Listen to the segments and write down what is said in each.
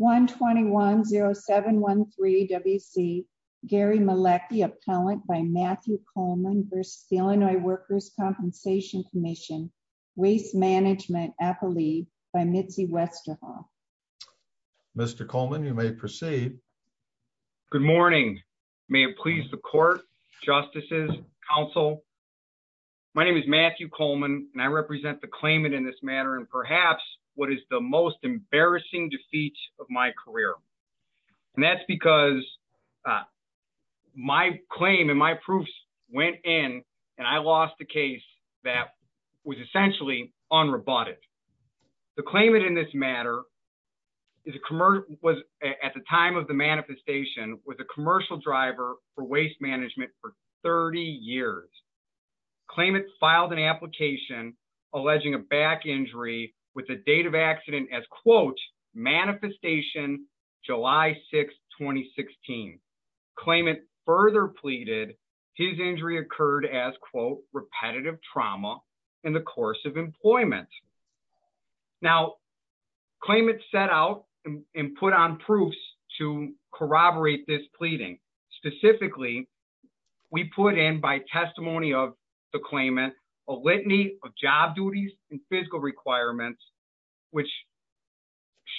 1-2-1-0-7-1-3-W-C Gary Malecki, appellant by Matthew Coleman v. Illinois Workers' Compensation Comm'n, Waste Management Appellee by Mitzi Westerhoff. Mr. Coleman, you may proceed. Good morning. May it please the court, justices, council. My name is Matthew Coleman and I represent the claimant in this matter and perhaps what is the most embarrassing defeat of my career and that's because my claim and my proofs went in and I lost a case that was essentially unroboted. The claimant in this matter was, at the time of the manifestation, was a commercial driver for waste management for 30 years. The claimant filed an application alleging a back injury with the date of accident as, quote, manifestation July 6, 2016. Claimant further pleaded his injury occurred as, quote, repetitive trauma in the course of employment. Now, claimant set out and put on proofs to corroborate this pleading. Specifically, we put in, by testimony of the claimant, a litany of job duties and physical requirements which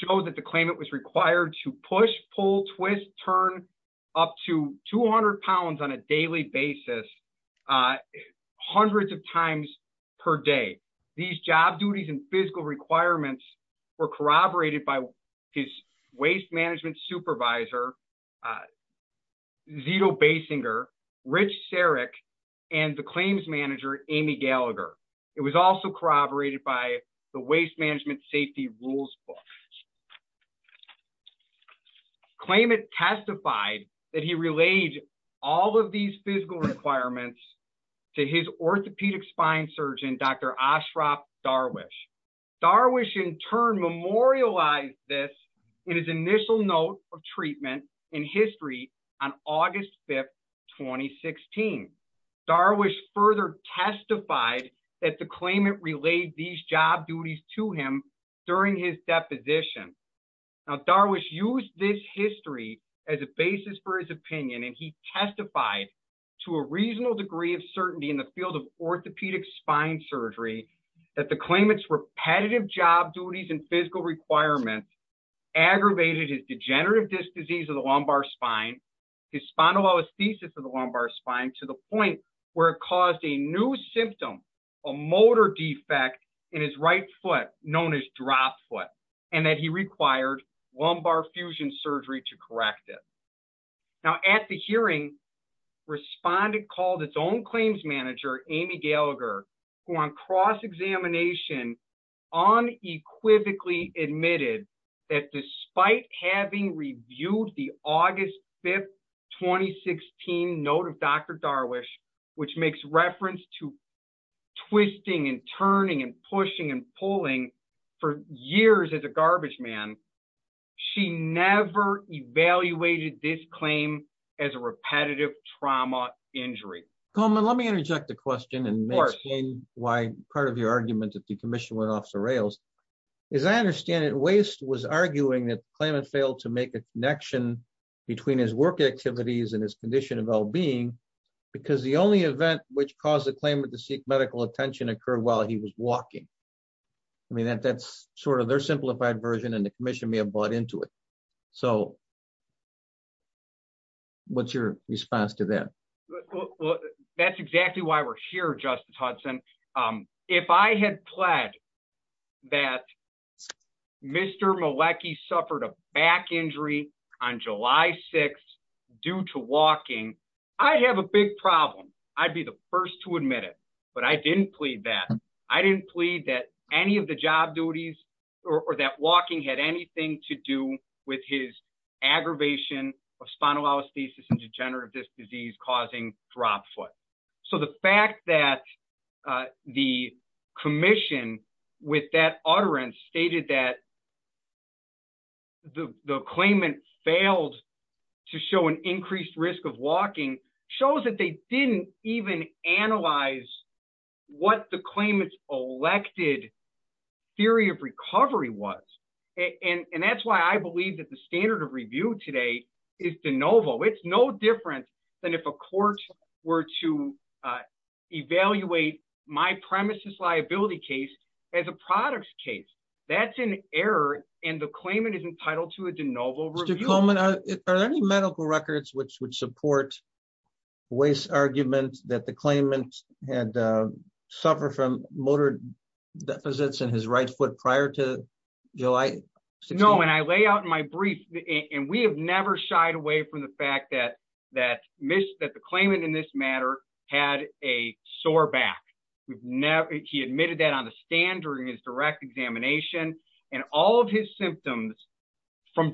show that the claimant was required to push, pull, twist, turn up to 200 pounds on a daily basis hundreds of times per day. These job duties and physical requirements were corroborated by his waste management supervisor, Zito Basinger, Rich Sarek, and the claims manager, Amy Gallagher. It was also corroborated by the Waste Management Safety Rules book. Claimant testified that he relayed all of these physical requirements to his orthopedic surgeon, Dr. Ashraf Darwish. Darwish, in turn, memorialized this in his initial note of treatment in history on August 5, 2016. Darwish further testified that the claimant relayed these job duties to him during his deposition. Now, Darwish used this history as a basis for his opinion, and he testified to a spine surgery that the claimant's repetitive job duties and physical requirements aggravated his degenerative disc disease of the lumbar spine, his spondylolisthesis of the lumbar spine to the point where it caused a new symptom, a motor defect in his right foot, known as drop foot, and that he required lumbar fusion surgery to correct it. Now, at the hearing, respondent called his own claims manager, Amy Gallagher, who on cross-examination unequivocally admitted that despite having reviewed the August 5, 2016, note of Dr. Darwish, which makes reference to twisting and turning and pushing and pulling for years as a garbage man, she never evaluated this claim as a repetitive trauma injury. Coleman, let me interject a question and explain why part of your argument that the commission went off the rails. As I understand it, Waste was arguing that the claimant failed to make a connection between his work activities and his condition of well-being because the only event which caused the claimant to seek medical attention occurred while he was walking. I mean, that's sort of their simplified version and the commission may have bought into it. So what's your response to that? Well, that's exactly why we're here, Justice Hudson. If I had pledged that Mr. Malecki suffered a back injury on July 6 due to walking, I'd have a big problem. I'd be the first to admit but I didn't plead that. I didn't plead that any of the job duties or that walking had anything to do with his aggravation of spinal osteosis and degenerative disc disease causing drop foot. So the fact that the commission with that utterance stated that the claimant failed to show an increased risk of walking shows that they didn't even analyze what the claimant's elected theory of recovery was. And that's why I believe that the standard of review today is de novo. It's no different than if a court were to evaluate my premise's liability case as a product's case. That's an error and the claimant is entitled to a de novo review. Are there any medical records which would support the argument that the claimant had suffered from motor deficits in his right foot prior to July 6? No, and I lay out in my brief and we have never shied away from the fact that the claimant in this matter had a sore back. He admitted that on the stand during his direct examination and all of his symptoms from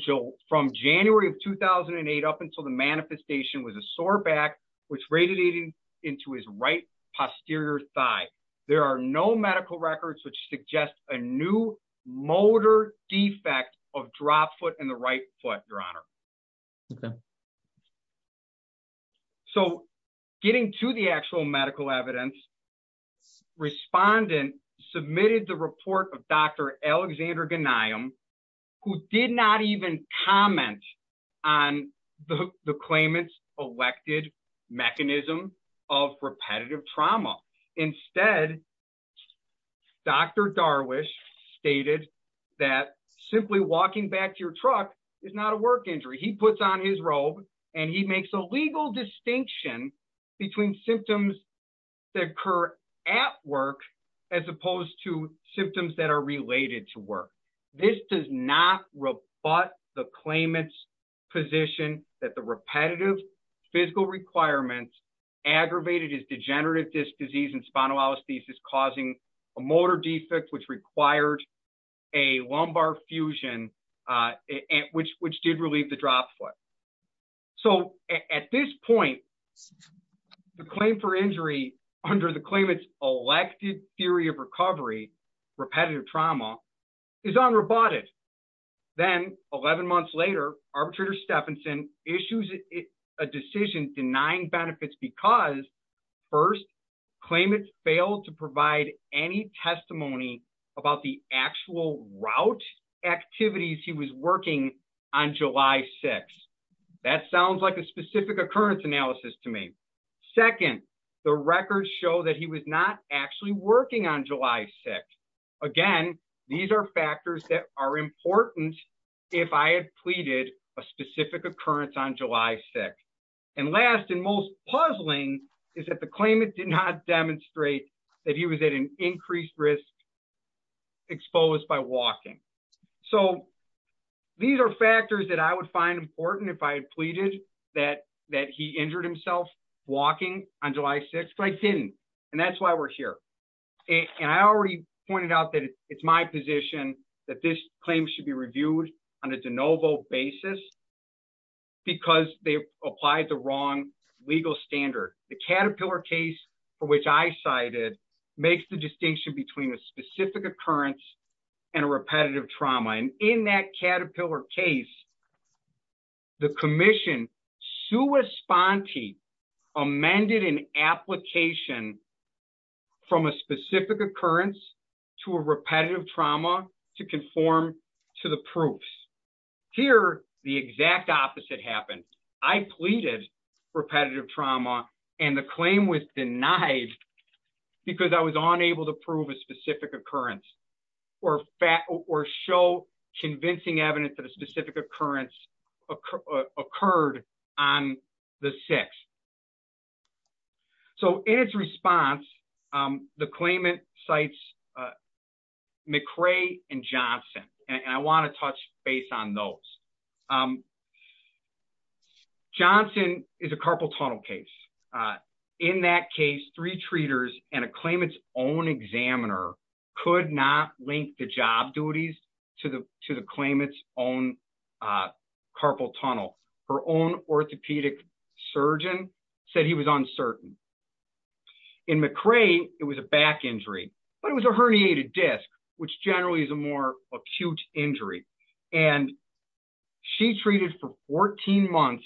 January of 2008 up until the manifestation was a sore back which radiated into his right posterior thigh. There are no medical records which suggest a new motor defect of drop foot in the right foot, your honor. Okay. So getting to the actual medical evidence, respondent submitted the report of Dr. Alexander Ghanayem who did not even comment on the claimant's elected mechanism of repetitive trauma. Instead, Dr. Darwish stated that simply walking back to your truck is not a work injury. He puts on his robe and he makes a legal distinction between symptoms that occur at work as opposed to symptoms that are related to work. This does not rebut the claimant's position that the repetitive physical requirements aggravated his degenerative disease and spinal anesthesia is causing a motor defect which required a lumbar fusion which did relieve the drop foot. So at this point, the claim for injury under the claimant's elected theory of recovery, repetitive trauma is unroboted. Then 11 months later, arbitrator Stephenson issues a decision denying benefits because first, claimant failed to provide any testimony about the actual route activities he was working on July 6th. That sounds like a specific occurrence analysis to me. Second, the records show that he was not actually working on a specific occurrence on July 6th. And last and most puzzling is that the claimant did not demonstrate that he was at an increased risk exposed by walking. So these are factors that I would find important if I had pleaded that he injured himself walking on July 6th but I didn't and that's why we're here. And I already pointed out that it's my position that this claim should be reviewed on a de novo basis because they applied the wrong legal standard. The Caterpillar case for which I cited makes the distinction between a specific occurrence and a repetitive trauma. And in that Caterpillar case, the commission sui sponte amended an application from a specific occurrence to a repetitive trauma to conform to the proofs. Here, the exact opposite happened. I pleaded repetitive trauma and the claim was denied because I was unable to prove a specific occurrence or show convincing evidence that a specific occurrence occurred on the 6th. So, in its response, the claimant cites McRae and Johnson and I want to touch base on those. Johnson is a carpal tunnel case. In that case, three treaters and a claimant's own examiner could not link the job duties to the claimant's own carpal tunnel. Her own orthopedic surgeon said he was uncertain. In McRae, it was a back injury but it was a herniated disc which generally is a more acute injury. And she treated for 14 months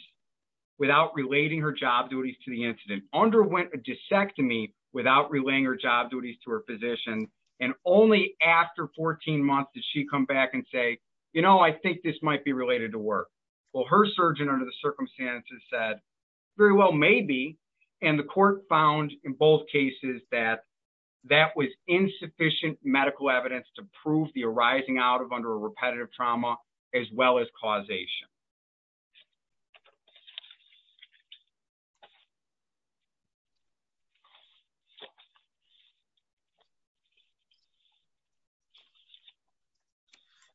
without relating her job duties to the incident, underwent a discectomy without relaying her job duties to her physician and only after 14 months did she come back and say, you know, I think this might be related to work. Well, her surgeon under the circumstances said, very well, maybe. And the court found in both cases that that was insufficient medical evidence to prove the arising out of under repetitive trauma as well as causation.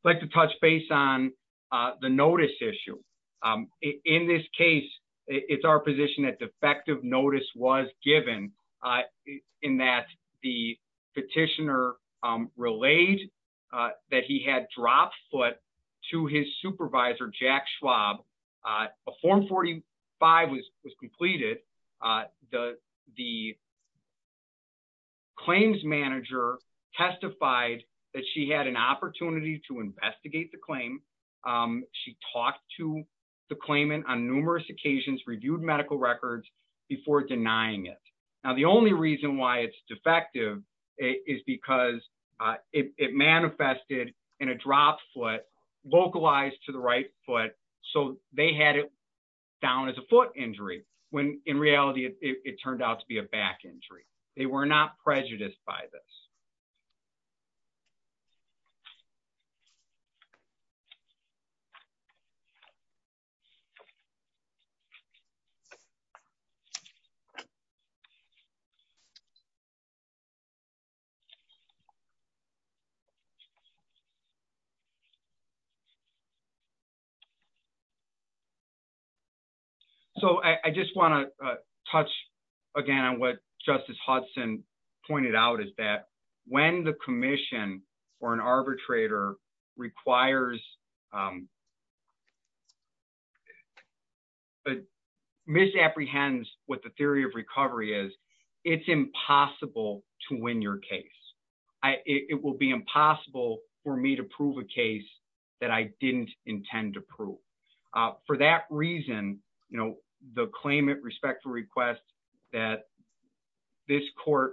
I'd like to touch base on the notice issue. In this case, it's our position that defective was given in that the petitioner relayed that he had dropped foot to his supervisor, Jack Schwab. A form 45 was completed. The claims manager testified that she had an opportunity to investigate the claim. She talked to the claimant on numerous occasions, reviewed medical records before denying it. Now, the only reason why it's defective is because it manifested in a drop foot localized to the right foot. So they had it down as a foot injury when in reality, it turned out to be a back injury. They were not prejudiced by this. So I just want to touch again on what Justice Hudson pointed out is that when the commission or an arbitrator requires, but misapprehends what the theory of recovery is, it's impossible to win your case. It will be impossible for me to prove a case that I didn't intend to prove. For that reason, the claimant respectfully requests that this court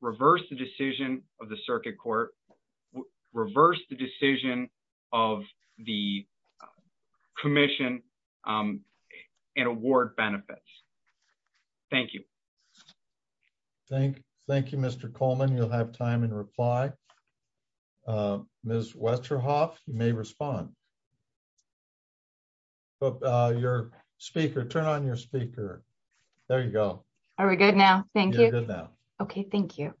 reverse the decision of the circuit court, reverse the decision of the commission and award benefits. Thank you. Thank you, Mr. Coleman. You'll have time and reply. Ms. Westerhoff, you may respond. Your speaker, turn on your speaker. There you go. Are we good now? Thank you. You're good now. Okay. Thank you.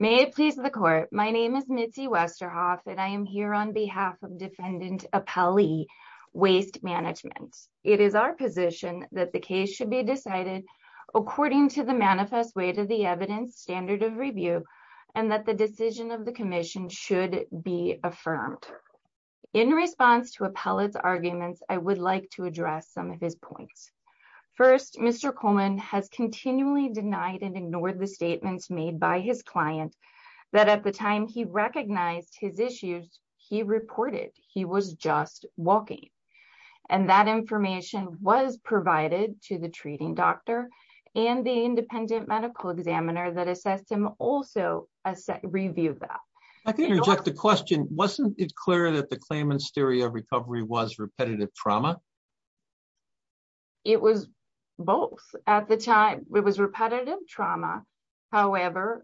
May it please the court. My name is Mitzi Westerhoff and I am here on behalf of defendant Appellee Waste Management. It is our position that the case should be decided according to the manifest way to the evidence standard of review and that the decision of the commission should be affirmed. In response to Appellate's arguments, I would like to address some of his points. First, Mr. Coleman has continually denied and ignored the statements made by his client that at the time he recognized his issues, he reported he was just walking. That information was provided to the treating doctor and the independent medical examiner that assessed him also reviewed that. I can interject the question. Wasn't it clear that the claimant's theory of recovery was repetitive trauma? However,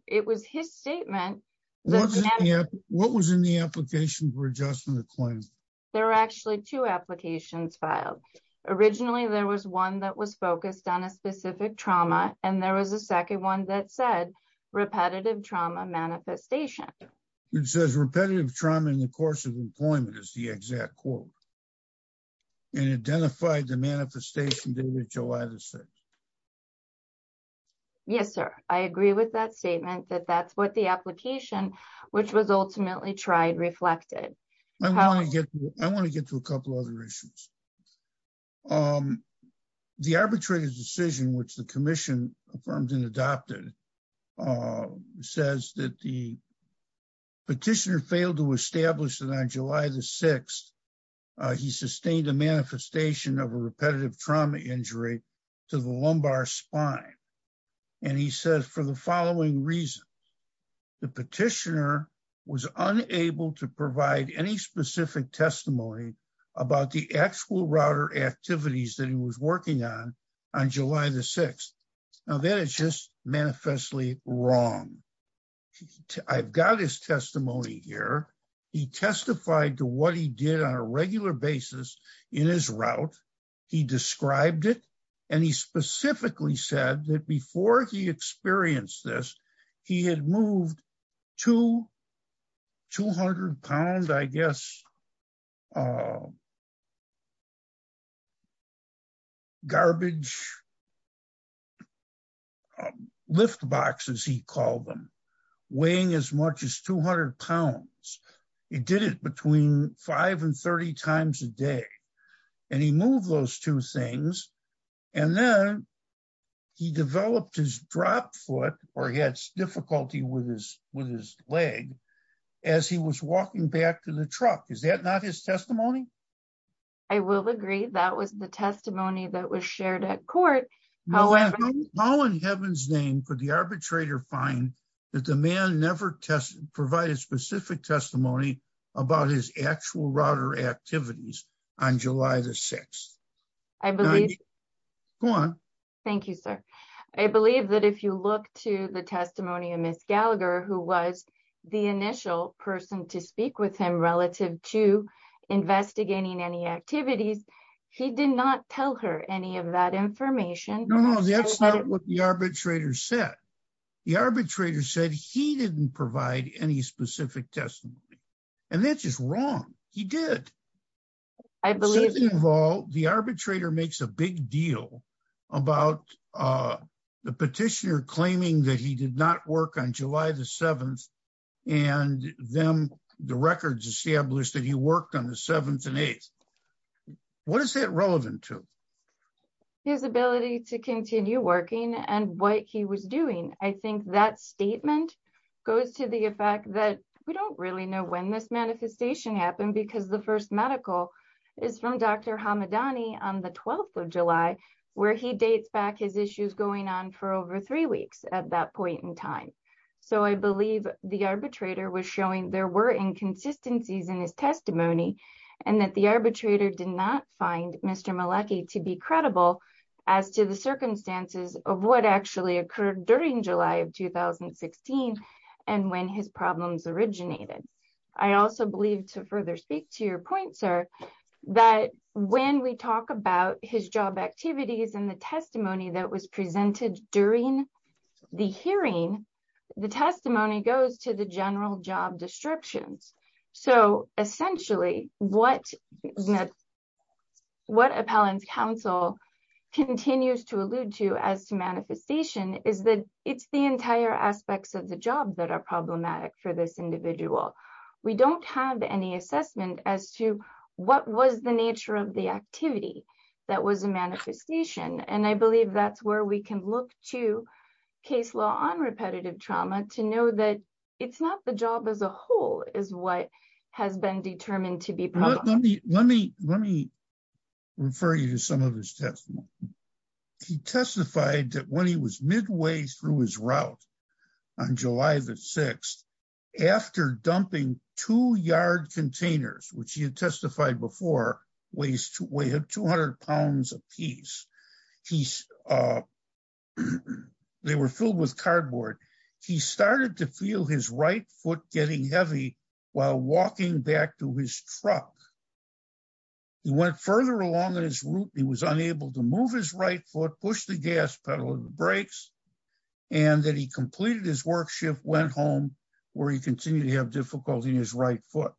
it was his statement. What was in the application for adjustment of claim? There are actually two applications filed. Originally, there was one that was focused on a specific trauma and there was a second one that said repetitive trauma manifestation. It says repetitive trauma in the course of employment is the exact quote and identified the manifestation date of July the 6th. Yes, sir. I agree with that statement that that's what the application which was ultimately tried reflected. I want to get to a couple other issues. The arbitrary decision which the commission affirmed and adopted says that the petitioner established that on July the 6th, he sustained a manifestation of a repetitive trauma injury to the lumbar spine. He says for the following reasons, the petitioner was unable to provide any specific testimony about the actual router activities that he was working on on July the 6th. Now, that is just manifestly wrong. I've got his testimony here. He testified to what he did on a regular basis in his route. He described it and he specifically said that before he experienced this, he had moved two 200-pound, I guess, garbage lift boxes, he called them, weighing as much as 200 pounds. He did it between 5 and 30 times a day and he moved those two things. Then, he developed his drop foot or he had difficulty with his leg as he was walking back to the truck. Is that not his testimony? I will agree that was the testimony that was shared at court. How in heaven's name could the arbitrator find that the man never provided specific testimony about his actual router activities on July the 6th? Thank you, sir. I believe that if you look to the testimony of Ms. Gallagher, who was the initial person to speak with him relative to investigating any activities, he did not tell her any of that information. No, that's not what the arbitrator said. The arbitrator said he didn't provide any specific testimony. That's just wrong. He did. The arbitrator makes a big deal about the petitioner claiming that he did not work on July the 7th and the records established that he worked on the 7th and 8th. What is that relevant to? His ability to continue working and what he was doing. I think that statement goes to the effect that we don't really know when this manifestation happened because the first medical is from Dr. Hamadani on the 12th of July, where he dates back his issues going on for over three weeks at that point in time. I believe the arbitrator was showing there were inconsistencies in his testimony and that the arbitrator did not find Mr. Malecki to be credible as to the circumstances of what actually occurred during July of 2016 and when his problems originated. I also believe to further speak to your point, sir, that when we talk about his job activities and the testimony that was made, what appellant's counsel continues to allude to as to manifestation is that it's the entire aspects of the job that are problematic for this individual. We don't have any assessment as to what was the nature of the activity that was a manifestation. I believe that's where we can look to case law on repetitive trauma to know that it's not the job as a whole is what has been determined to be problematic. Let me refer you to some of his testimony. He testified that when he was midway through his route on July the 6th, after dumping two yard containers, which he had testified before weigh 200 pounds apiece, they were filled with cardboard. He started to feel his right foot getting heavy while walking back to his truck. He went further along in his route. He was unable to move his right foot, push the gas pedal or the brakes, and that he completed his work shift, went home, where he continued to have difficulty in his right foot.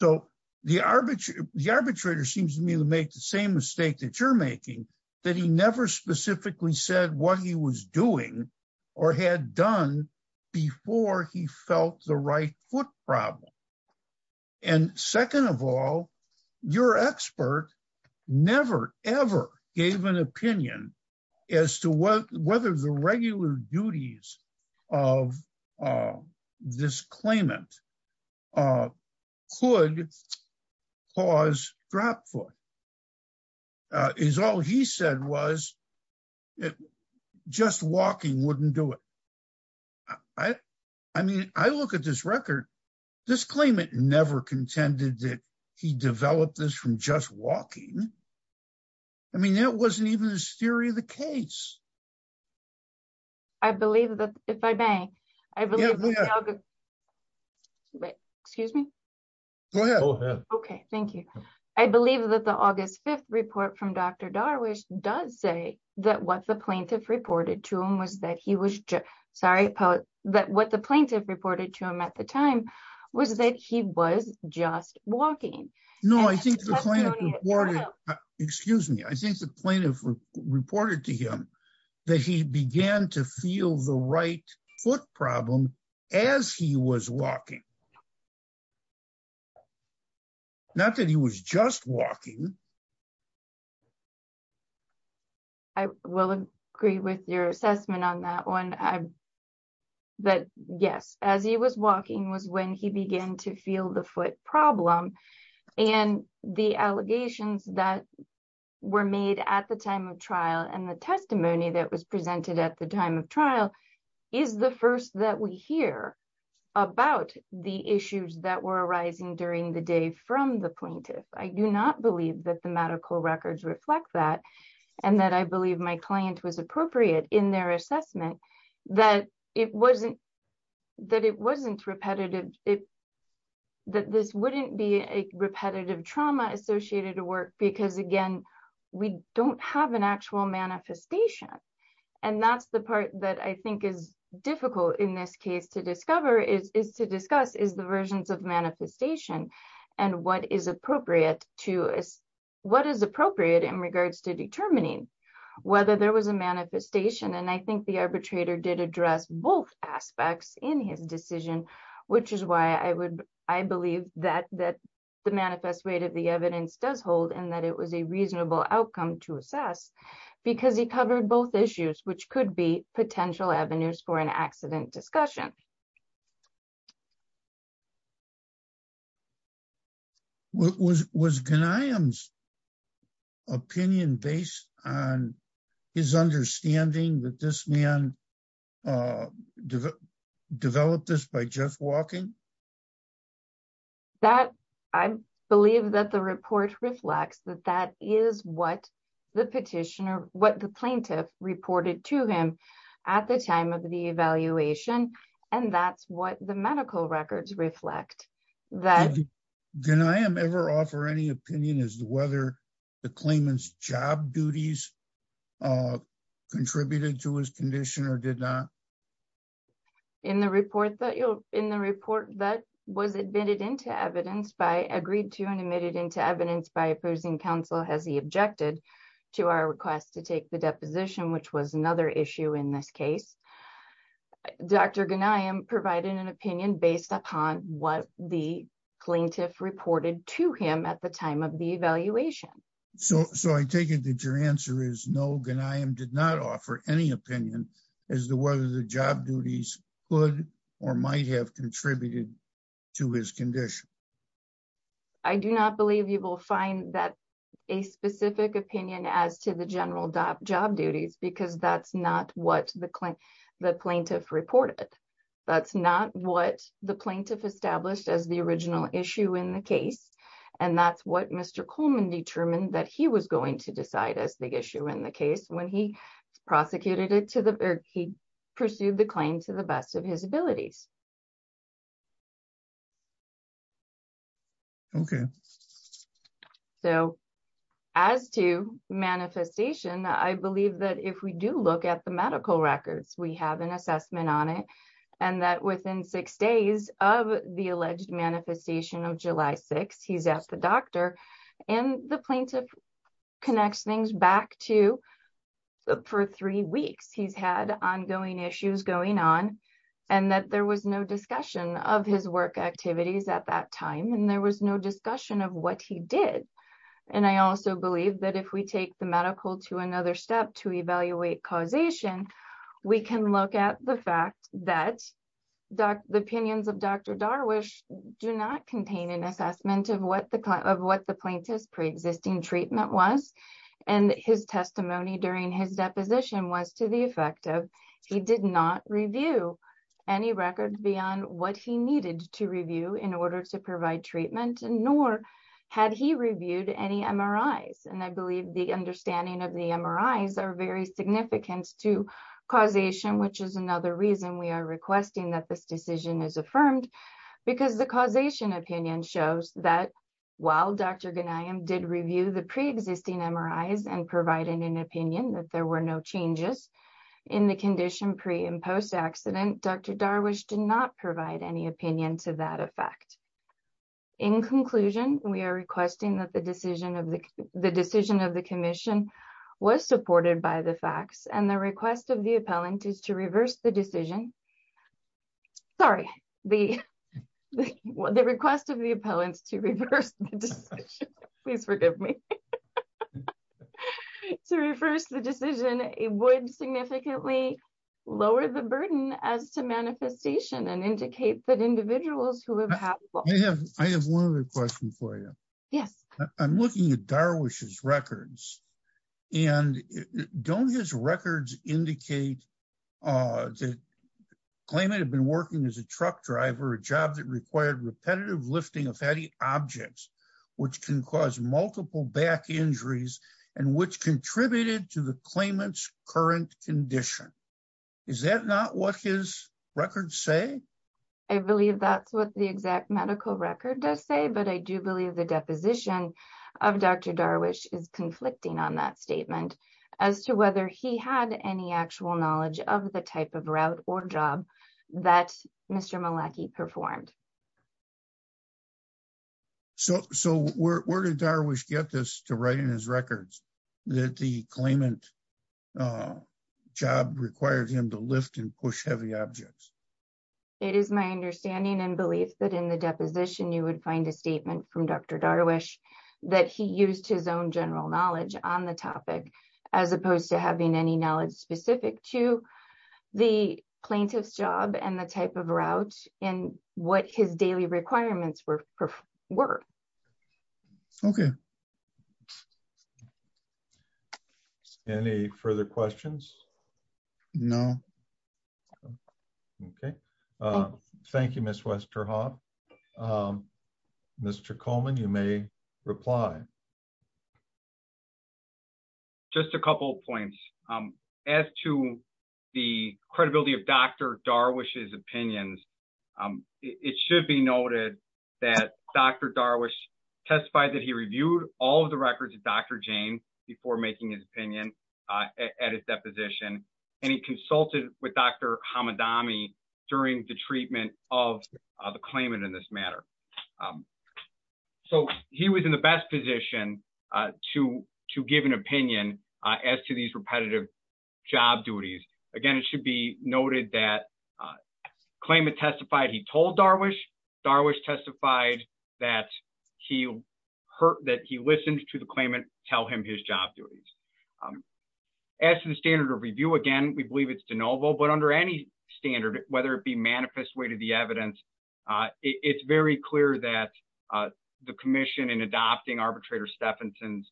So, the arbitrator seems to me to make the same mistake that you're making, that he never specifically said what he was doing or had done before he felt the right foot problem. Second of all, your expert never, ever gave an opinion as to whether the regular duties of this claimant could cause drop foot. All he said was that just walking wouldn't do it. I mean, I look at this record, this claimant never contended that he developed this from just walking. I mean, that wasn't even his theory of the case. I believe that, if I may, I believe that the August 5th report from Dr. Darwish does say that what the plaintiff reported to him was that he was just, sorry, that what the plaintiff reported to him at the time was that he was just walking. No, I think the plaintiff reported, excuse me, I think the plaintiff reported to him that he began to feel the right foot problem as he was walking. Not that he was just walking. I will agree with your assessment on that one. But yes, as he was walking was when he began to feel the foot problem. And the allegations that were made at the time of trial and the testimony that was presented at the time of trial is the first that we hear about the issues that were arising during the day from the plaintiff. I do not believe that the medical records reflect that and that I believe my that it wasn't repetitive, that this wouldn't be a repetitive trauma associated to work because, again, we don't have an actual manifestation. And that's the part that I think is difficult in this case to discover is to discuss is the versions of manifestation and what is appropriate to us, what is appropriate in regards to determining whether there was a manifestation. And I think the arbitrator did address both aspects in his decision, which is why I would, I believe that the manifest rate of the evidence does hold and that it was a reasonable outcome to assess because he covered both issues, which could be potential avenues for an accident discussion. Was Ghanayem's opinion based on his understanding that this man developed this by just walking? That I believe that the report reflects that that is what the petitioner, what the plaintiff reported to him at the time of the evaluation. And that's what the medical records reflect. Did Ghanayem ever offer any opinion as to whether the claimant's job duties contributed to his condition or did not? In the report that was admitted into evidence by agreed to and admitted into evidence by opposing counsel, as he objected to our request to take the deposition, which was another issue in this case, Dr. Ghanayem provided an opinion based upon what the plaintiff reported to him at the time of the evaluation. So, so I take it that your answer is no, Ghanayem did not offer any opinion as to whether the job duties could or might have contributed to his condition. I do not believe you will find that a specific opinion as to the general job duties, because that's not what the plaintiff reported. That's not what the plaintiff established as the original issue in the case. And that's what Mr. Coleman determined that he was going to decide as the issue in the case when he prosecuted it to the, or he pursued the claim to the best of his abilities. Okay. So, as to manifestation, I believe that if we do look at the medical records, we have an assessment on it. And that within six days of the alleged manifestation of July 6, he's at the doctor and the plaintiff connects things back to, for three weeks, he's had ongoing issues going on and that there was no discussion of his work activities at that time. And there was no discussion of what he did. And I also believe that if we take the medical to another step to evaluate causation, we can look at the fact that the opinions of Dr. Darwish do not contain an assessment of what the client, of what the plaintiff's preexisting treatment was. And his testimony during his deposition was to the effect of, he did not review any record beyond what he needed to review in order to provide treatment, nor had he reviewed any MRIs. And I believe the understanding of the MRIs are very significant to causation, which is another reason we are requesting that this decision is affirmed because the causation opinion shows that while Dr. Ghanayem did review the preexisting MRIs and provided an opinion that there were no changes in the condition pre and post-accident, Dr. Darwish did not provide any opinion to that effect. In conclusion, we are requesting that the decision of the commission was supported by the facts and the request of the appellant is to reverse the decision. Sorry, the request of the appellants to reverse the decision. Please forgive me. To reverse the decision, it would significantly lower the burden as to manifestation and indicate that individuals who have had- I have one other question for you. Yes. I'm looking at Darwish's records indicate that the claimant had been working as a truck driver, a job that required repetitive lifting of heavy objects, which can cause multiple back injuries and which contributed to the claimant's current condition. Is that not what his records say? I believe that's what the exact medical record does say, but I do believe the deposition of Dr. Darwish is conflicting on that statement as to whether he had any actual knowledge of the type of route or job that Mr. Malachy performed. So where did Darwish get this to write in his records that the claimant job required him to lift and push heavy objects? It is my understanding and belief that in the deposition you would find a statement from Dr. Darwish that he used his own general knowledge on the topic as opposed to having any knowledge specific to the plaintiff's job and the type of route and what his daily requirements were. Okay. Any further questions? No. Okay. Thank you, Ms. Westerhoff. Mr. Coleman, you may reply. Just a couple of points. As to the credibility of Dr. Darwish's opinions, it should be noted that Dr. Darwish testified that he reviewed all of the records of Dr. Jane before making his opinion at his deposition, and he consulted with Dr. Hamadami during the treatment of the claimant in this matter. So he was in the best position to give an opinion as to these repetitive job duties. Again, it should be noted that claimant testified he told Darwish. Darwish testified that he listened to the claimant tell him his job duties. As to the standard of review, again, we believe it's de novo, but under any standard, whether it be manifest way to the evidence, it's very clear that the commission in adopting Arbitrator Stephenson's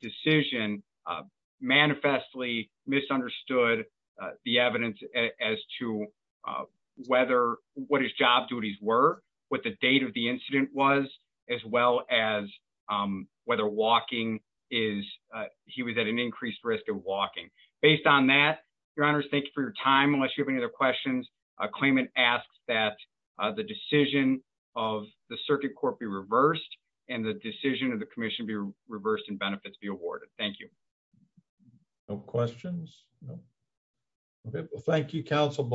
decision manifestly misunderstood the evidence as to whether what his job duties were, what the date of the incident was, as well as whether walking is, he was at an increased risk of walking. Based on that, your honors, thank you for your time. Unless you have any other questions, a claimant asks that the decision of the circuit court be reversed and the decision of the commission be reversed and benefits be awarded. Thank you. No questions. No. Okay. Well, thank you, counsel.